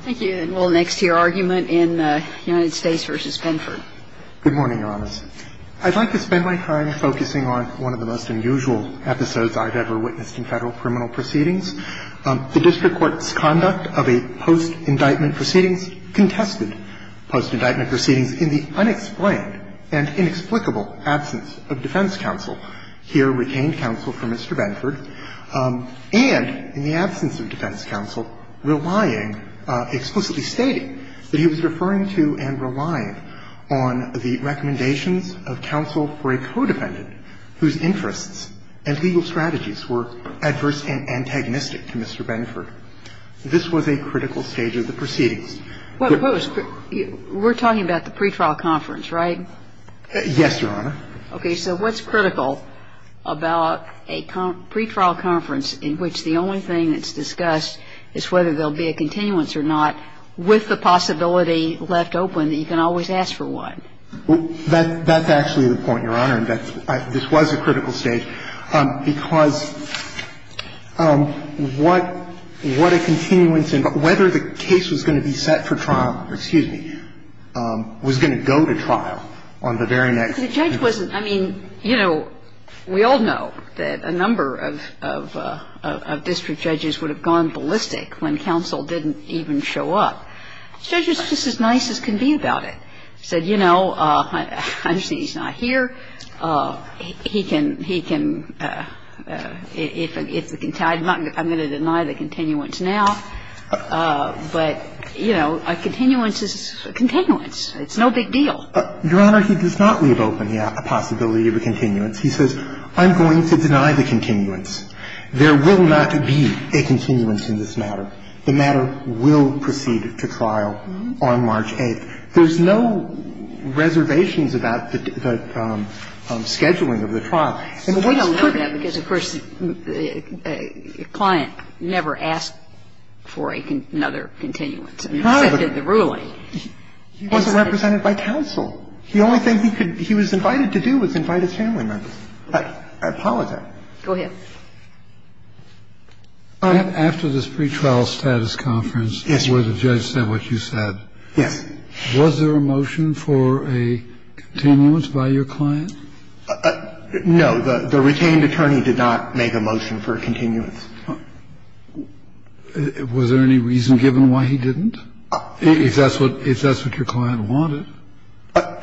Thank you. And we'll go next to your argument in United States v. Benford. Good morning, Your Honors. I'd like to spend my time focusing on one of the most unusual episodes I've ever witnessed in Federal criminal proceedings. The district court's conduct of a post-indictment proceedings contested post-indictment proceedings in the unexplained and inexplicable absence of defense counsel. Here, retained counsel for Mr. Benford, and in the absence of defense counsel, relied, explicitly stating, that he was referring to and relying on the recommendations of counsel for a codependent whose interests and legal strategies were adverse and antagonistic to Mr. Benford. This was a critical stage of the proceedings. What was the – we're talking about the pretrial conference, right? Yes, Your Honor. Okay. So what's critical about a pretrial conference in which the only thing that's discussed is whether there'll be a continuance or not, with the possibility left open that you can always ask for one. That's actually the point, Your Honor, that this was a critical stage, because what a continuance and whether the case was going to be set for trial – excuse me – was going to go to trial on the very next day. The judge wasn't – I mean, you know, we all know that a number of district judges would have gone ballistic when counsel didn't even show up. The judge was just as nice as can be about it. He said, you know, I understand he's not here. He can – he can – if the – I'm going to deny the continuance now, but, you know, a continuance is a continuance. It's no big deal. Your Honor, he does not leave open yet a possibility of a continuance. He says, I'm going to deny the continuance. There will not be a continuance in this matter. The matter will proceed to trial on March 8th. There's no reservations about the scheduling of the trial. And the words could be – Kagan. So we don't know that because, of course, a client never asked for another continuance except in the ruling. He wasn't represented by counsel. The only thing he could – he was invited to do was invite his family members. I apologize. Go ahead. After this pretrial status conference, where the judge said what you said, was there a motion for a continuance by your client? No, the retained attorney did not make a motion for a continuance. Was there any reason given why he didn't, if that's what your client wanted?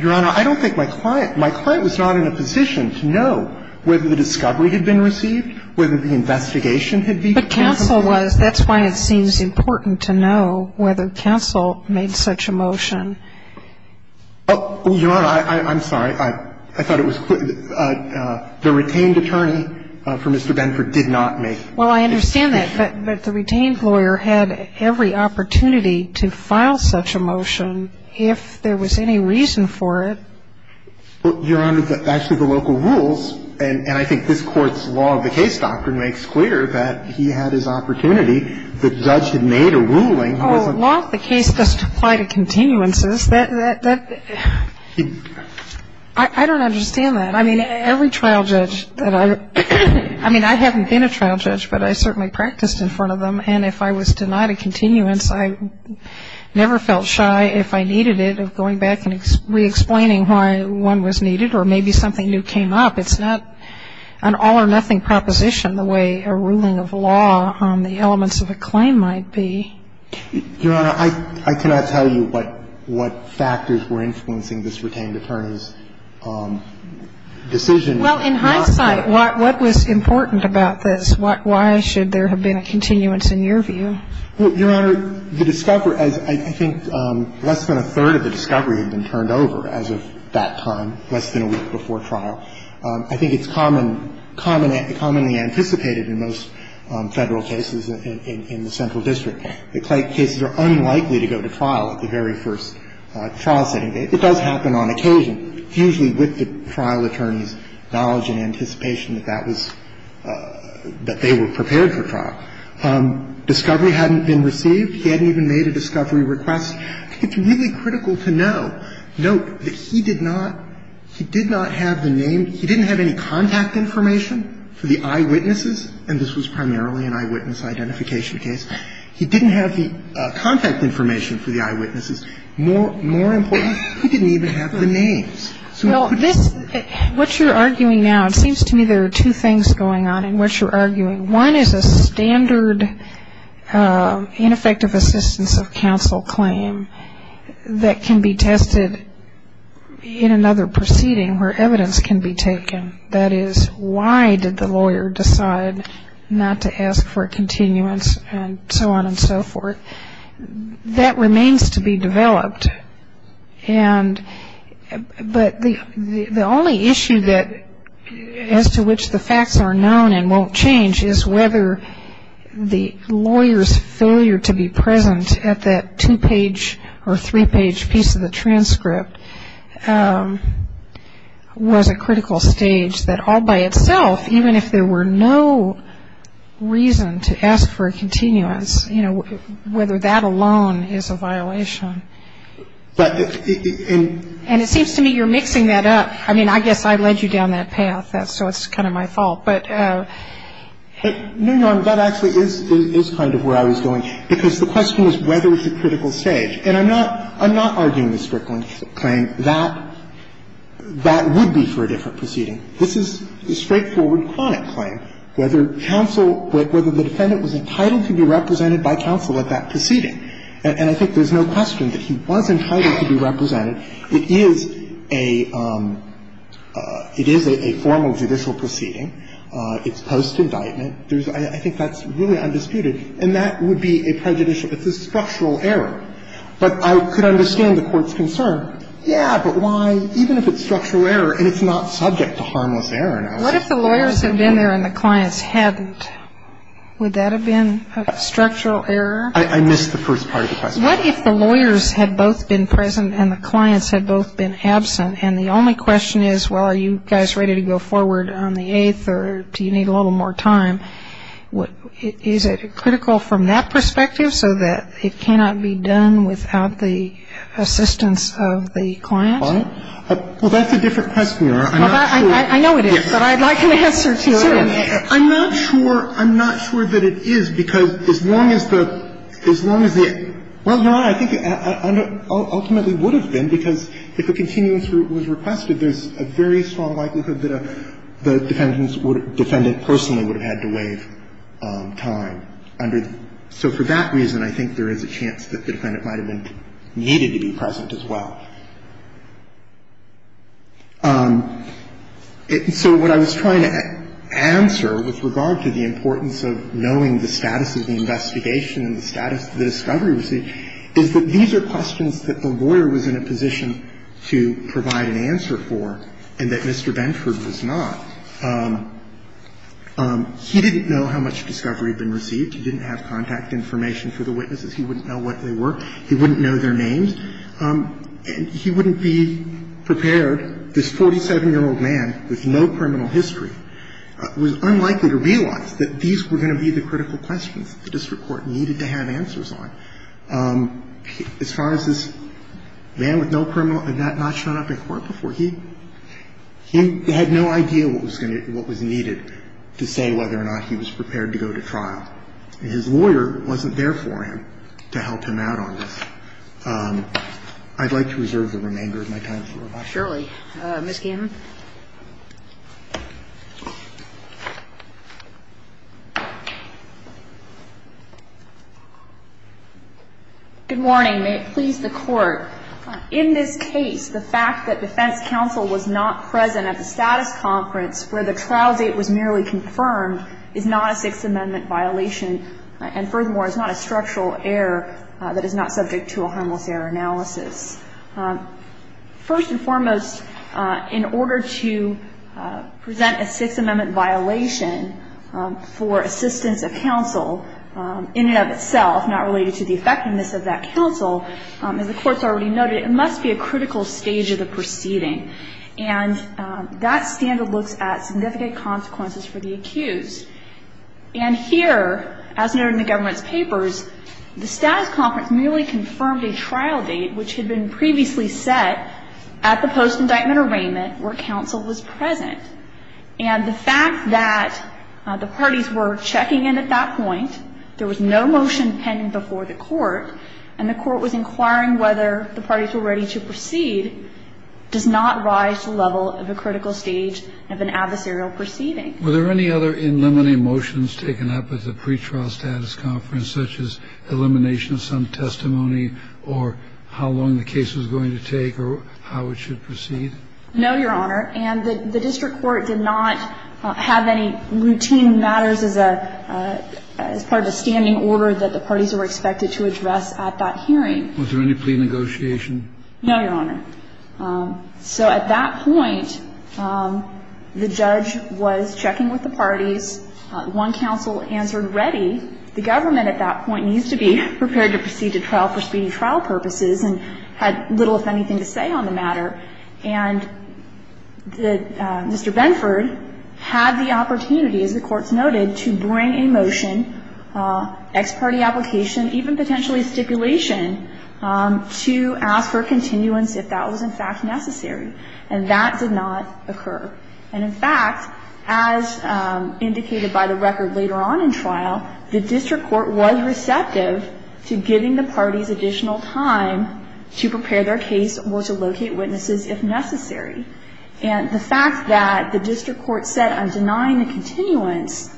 Your Honor, I don't think my client – my client was not in a position to know whether the discovery had been received, whether the investigation had been – But counsel was. That's why it seems important to know whether counsel made such a motion. Oh, Your Honor, I'm sorry. I thought it was – the retained attorney for Mr. Benford did not make – Well, I understand that. But the retained lawyer had every opportunity to file such a motion if there was any reason for it. Well, Your Honor, actually, the local rules, and I think this Court's law of the case doctrine makes clear that he had his opportunity. The judge had made a ruling. Oh, law of the case doesn't apply to continuances. That – I don't understand that. I mean, every trial judge that I – I mean, I haven't been a trial judge, but I certainly practiced in front of them. And if I was denied a continuance, I never felt shy, if I needed it, of going back and re-explaining why one was needed or maybe something new came up. It's not an all-or-nothing proposition the way a ruling of law on the elements of a claim might be. Your Honor, I cannot tell you what factors were influencing this retained attorney's decision. Well, in hindsight, what was important about this? Why should there have been a continuance in your view? Well, Your Honor, the discovery – as I think less than a third of the discovery had been turned over as of that time, less than a week before trial. I think it's common – commonly anticipated in most Federal cases in the central district that cases are unlikely to go to trial at the very first trial setting. It does happen on occasion, usually with the trial attorney's knowledge and anticipation that that was – that they were prepared for trial. Discovery hadn't been received. He hadn't even made a discovery request. It's really critical to note that he did not – he did not have the name – he didn't have any contact information for the eyewitnesses, and this was primarily an eyewitness identification case. He didn't have the contact information for the eyewitnesses. More important, he didn't even have the names. So he couldn't have the names. Well, this – what you're arguing now, it seems to me there are two things going on in what you're arguing. One is a standard ineffective assistance of counsel claim that can be tested in another proceeding where evidence can be taken. That is, why did the lawyer decide not to ask for a continuance, and so on and so forth. That remains to be developed, and – but the only issue that – as to which the facts are known and won't change is whether the lawyer's failure to be present at that two-page or three-page piece of the transcript was a critical stage that all by itself, even if there were no reason to ask for a continuance, you know, whether that alone is a violation. But – And it seems to me you're mixing that up. I mean, I guess I led you down that path, so it's kind of my fault. But no, Your Honor, that actually is kind of where I was going, because the question is whether it's a critical stage. And I'm not – I'm not arguing the Strickland claim that that would be for a different proceeding. This is a straightforward, chronic claim, whether counsel – whether the defendant was entitled to be represented by counsel at that proceeding. And I think there's no question that he was entitled to be represented. It is a – it is a formal judicial proceeding. It's post-indictment. There's – I think that's really undisputed. And that would be a prejudicial – it's a structural error. But I could understand the Court's concern, yeah, but why – even if it's structural error and it's not subject to harmless error now. What if the lawyers had been there and the clients hadn't? Would that have been a structural error? I missed the first part of the question. What if the lawyers had both been present and the clients had both been absent? And the only question is, well, are you guys ready to go forward on the 8th, or do you need a little more time? Is it critical from that perspective, so that it cannot be done without the assistance of the client? Well, that's a different question, Your Honor. I'm not sure. I know it is, but I'd like an answer to it. I'm not sure – I'm not sure that it is, because as long as the – as long as the – well, Your Honor, I think it ultimately would have been, because if a continuance was requested, there's a very strong likelihood that a – the defendant would – defendant personally would have had to waive time under the – so for that reason, I think there is a chance that the defendant might have been – needed to be present as well. So what I was trying to answer with regard to the importance of knowing the status of the investigation and the status of the discovery received is that these are questions that the lawyer was in a position to provide an answer for and that Mr. Benford was not. He didn't know how much discovery had been received. He didn't have contact information for the witnesses. He wouldn't know what they were. He wouldn't know their names. He wouldn't be prepared – this 47-year-old man with no criminal history was unlikely to realize that these were going to be the critical questions that the district court needed to have answers on. As far as this man with no criminal – had not shown up in court before, he – he had no idea what was going to – what was needed to say whether or not he was prepared to go to trial, and his lawyer wasn't there for him to help him out on this. I'd like to reserve the remainder of my time for rebuttal. Surely. Ms. Gannon? Good morning. May it please the Court. In this case, the fact that defense counsel was not present at the status conference where the trial date was merely confirmed is not a Sixth Amendment violation and furthermore is not a structural error that is not subject to a harmless error analysis. First and foremost, in order to present a Sixth Amendment violation for assistance of counsel in and of itself, not related to the effectiveness of that counsel, as the Court's already noted, it must be a critical stage of the proceeding. And that standard looks at significant consequences for the accused. And here, as noted in the government's papers, the status conference merely confirmed a trial date which had been previously set at the post-indictment arraignment where counsel was present. And the fact that the parties were checking in at that point, there was no motion pending before the Court, and the Court was inquiring whether the parties were ready to proceed, does not rise to the level of a critical stage of an adversarial proceeding. Were there any other in limine motions taken up at the pre-trial status conference, such as elimination of some testimony or how long the case was going to take or how it should proceed? No, Your Honor. And the district court did not have any routine matters as part of a standing order that the parties were expected to address at that hearing. Was there any plea negotiation? No, Your Honor. So at that point, the judge was checking with the parties. One counsel answered, ready. The government at that point needs to be prepared to proceed to trial for speedy trial purposes and had little, if anything, to say on the matter. And Mr. Benford had the opportunity, as the Court's noted, to bring a motion, ex parte application, even potentially stipulation, to ask for continuance if that was, in fact, necessary. And that did not occur. And, in fact, as indicated by the record later on in trial, the district court was receptive to giving the parties additional time to prepare their case or to locate witnesses if necessary. And the fact that the district court said, I'm denying the continuance,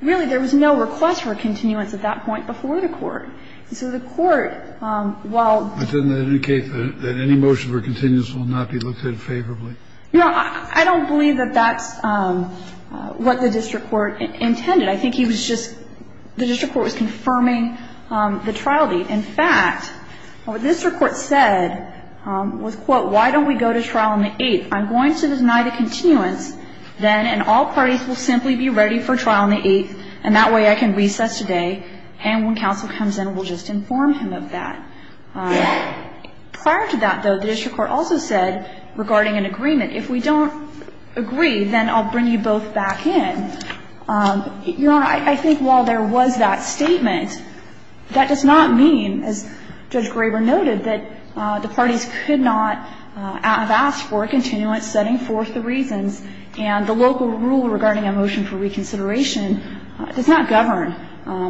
really, there was no request for continuance at that point before the court. And so the court, while ---- But doesn't that indicate that any motion for continuance will not be looked at favorably? No, I don't believe that that's what the district court intended. I think he was just ---- the district court was confirming the trial date. In fact, what this report said was, quote, why don't we go to trial on the 8th? I'm going to deny the continuance, then, and all parties will simply be ready for trial on the 8th, and that way I can recess today, and when counsel comes in, we'll just inform him of that. Prior to that, though, the district court also said, regarding an agreement, if we don't agree, then I'll bring you both back in. Your Honor, I think while there was that statement, that does not mean, as Judge Graber noted, that the parties could not have asked for a continuance setting forth the reasons, and the local rule regarding a motion for reconsideration does not govern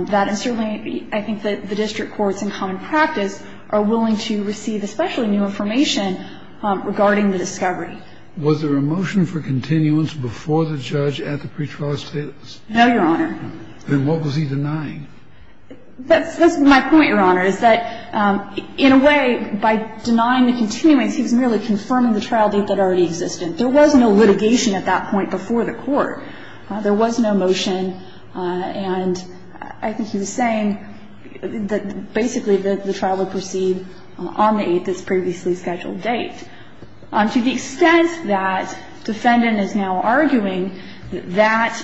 that. And certainly, I think that the district courts in common practice are willing to receive especially new information regarding the discovery. Was there a motion for continuance before the judge at the pretrial status? No, Your Honor. Then what was he denying? That's my point, Your Honor, is that in a way, by denying the continuance, he was merely confirming the trial date that already existed. There was no litigation at that point before the court. There was no motion, and I think he was saying that basically the trial would proceed on the 8th, this previously scheduled date. To the extent that defendant is now arguing that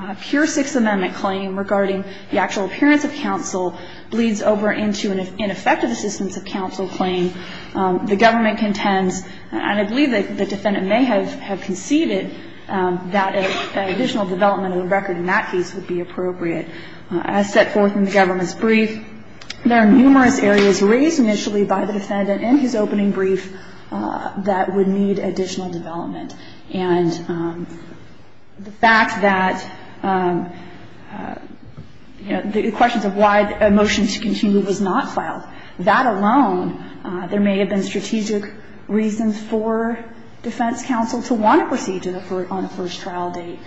that pure Sixth Amendment claim regarding the actual appearance of counsel bleeds over into an ineffective assistance of counsel claim, the government contends, and I believe that the defendant may have conceded that additional development of the record in that case would be appropriate. As set forth in the government's brief, there are numerous areas raised initially by the defendant in his opening brief that would need additional development. And the fact that the questions of why a motion to continue was not filed, that alone, there may have been strategic reasons for defense counsel to want to proceed on the first trial date.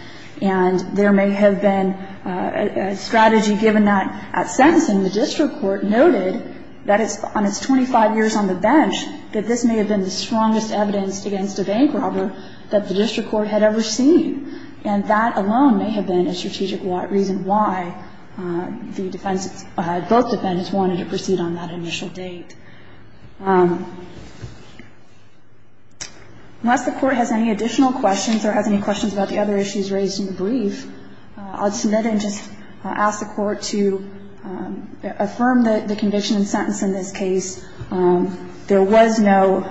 And there may have been a strategy given that at sentencing, the district court noted that on its 25 years on the bench, that this may have been the strongest evidence against a bank robber that the district court had ever seen. And that alone may have been a strategic reason why the defense, both defendants wanted to proceed on that initial date. Unless the court has any additional questions or has any questions about the other issues raised in the brief, I'll just submit it and just ask the court to affirm the conviction and sentence in this case. There was no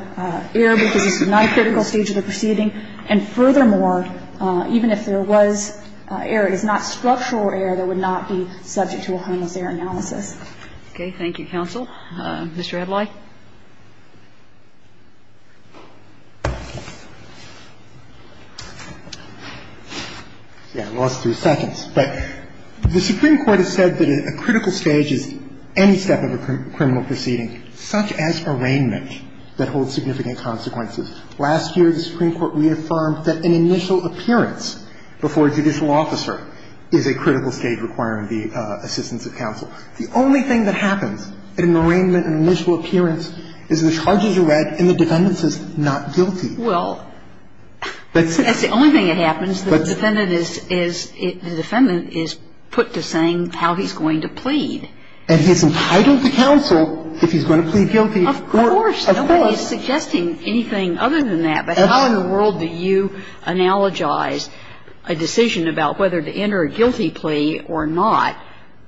error because this was not a critical stage of the proceeding. And furthermore, even if there was error, it is not structural error that would not be subject to a homicidal analysis. Okay. Thank you, counsel. Mr. Adlai. Yeah. I lost three seconds. But the Supreme Court has said that a critical stage is any step of a criminal proceeding, such as arraignment, that holds significant consequences. Last year, the Supreme Court reaffirmed that an initial appearance before a judicial officer is a critical stage requiring the assistance of counsel. The only thing that happens in an arraignment, an initial appearance, is the charges are read and the defendant says not guilty. Well, that's the only thing that happens. The defendant is put to saying how he's going to plead. And he's entitled to counsel if he's going to plead guilty. Of course. Of course. Nobody is suggesting anything other than that. But how in the world do you analogize a decision about whether to enter a guilty plea or not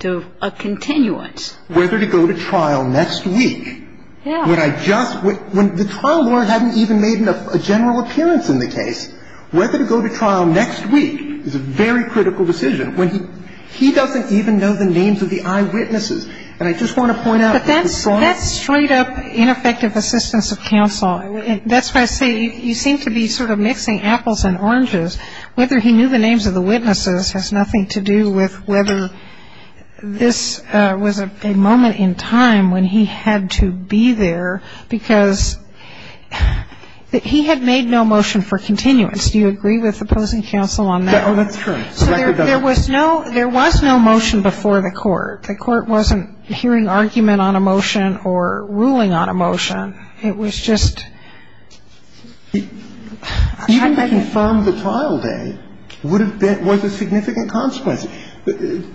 to a continuance? Whether to go to trial next week. Yeah. When I just – when the trial lawyer hadn't even made a general appearance in the case, whether to go to trial next week is a very critical decision. When he doesn't even know the names of the eyewitnesses. And I just want to point out that the court – But that's straight-up ineffective assistance of counsel. That's why I say you seem to be sort of mixing apples and oranges. Whether he knew the names of the witnesses has nothing to do with whether this was a moment in time when he had to be there because he had made no motion for continuance. Do you agree with opposing counsel on that? Oh, that's true. So there was no – there was no motion before the court. The court wasn't hearing argument on a motion or ruling on a motion. And it was just – Even to confirm the trial day would have been – was a significant consequence.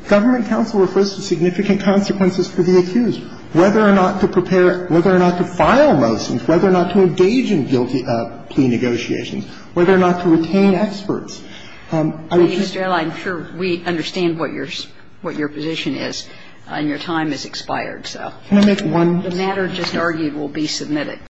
Government counsel refers to significant consequences for the accused. Whether or not to prepare – whether or not to file motions, whether or not to engage in guilty plea negotiations, whether or not to retain experts, I would just – Mr. Ailey, I'm sure we understand what your – what your position is, and your time has expired, so. Can I make one – The matter just argued will be submitted.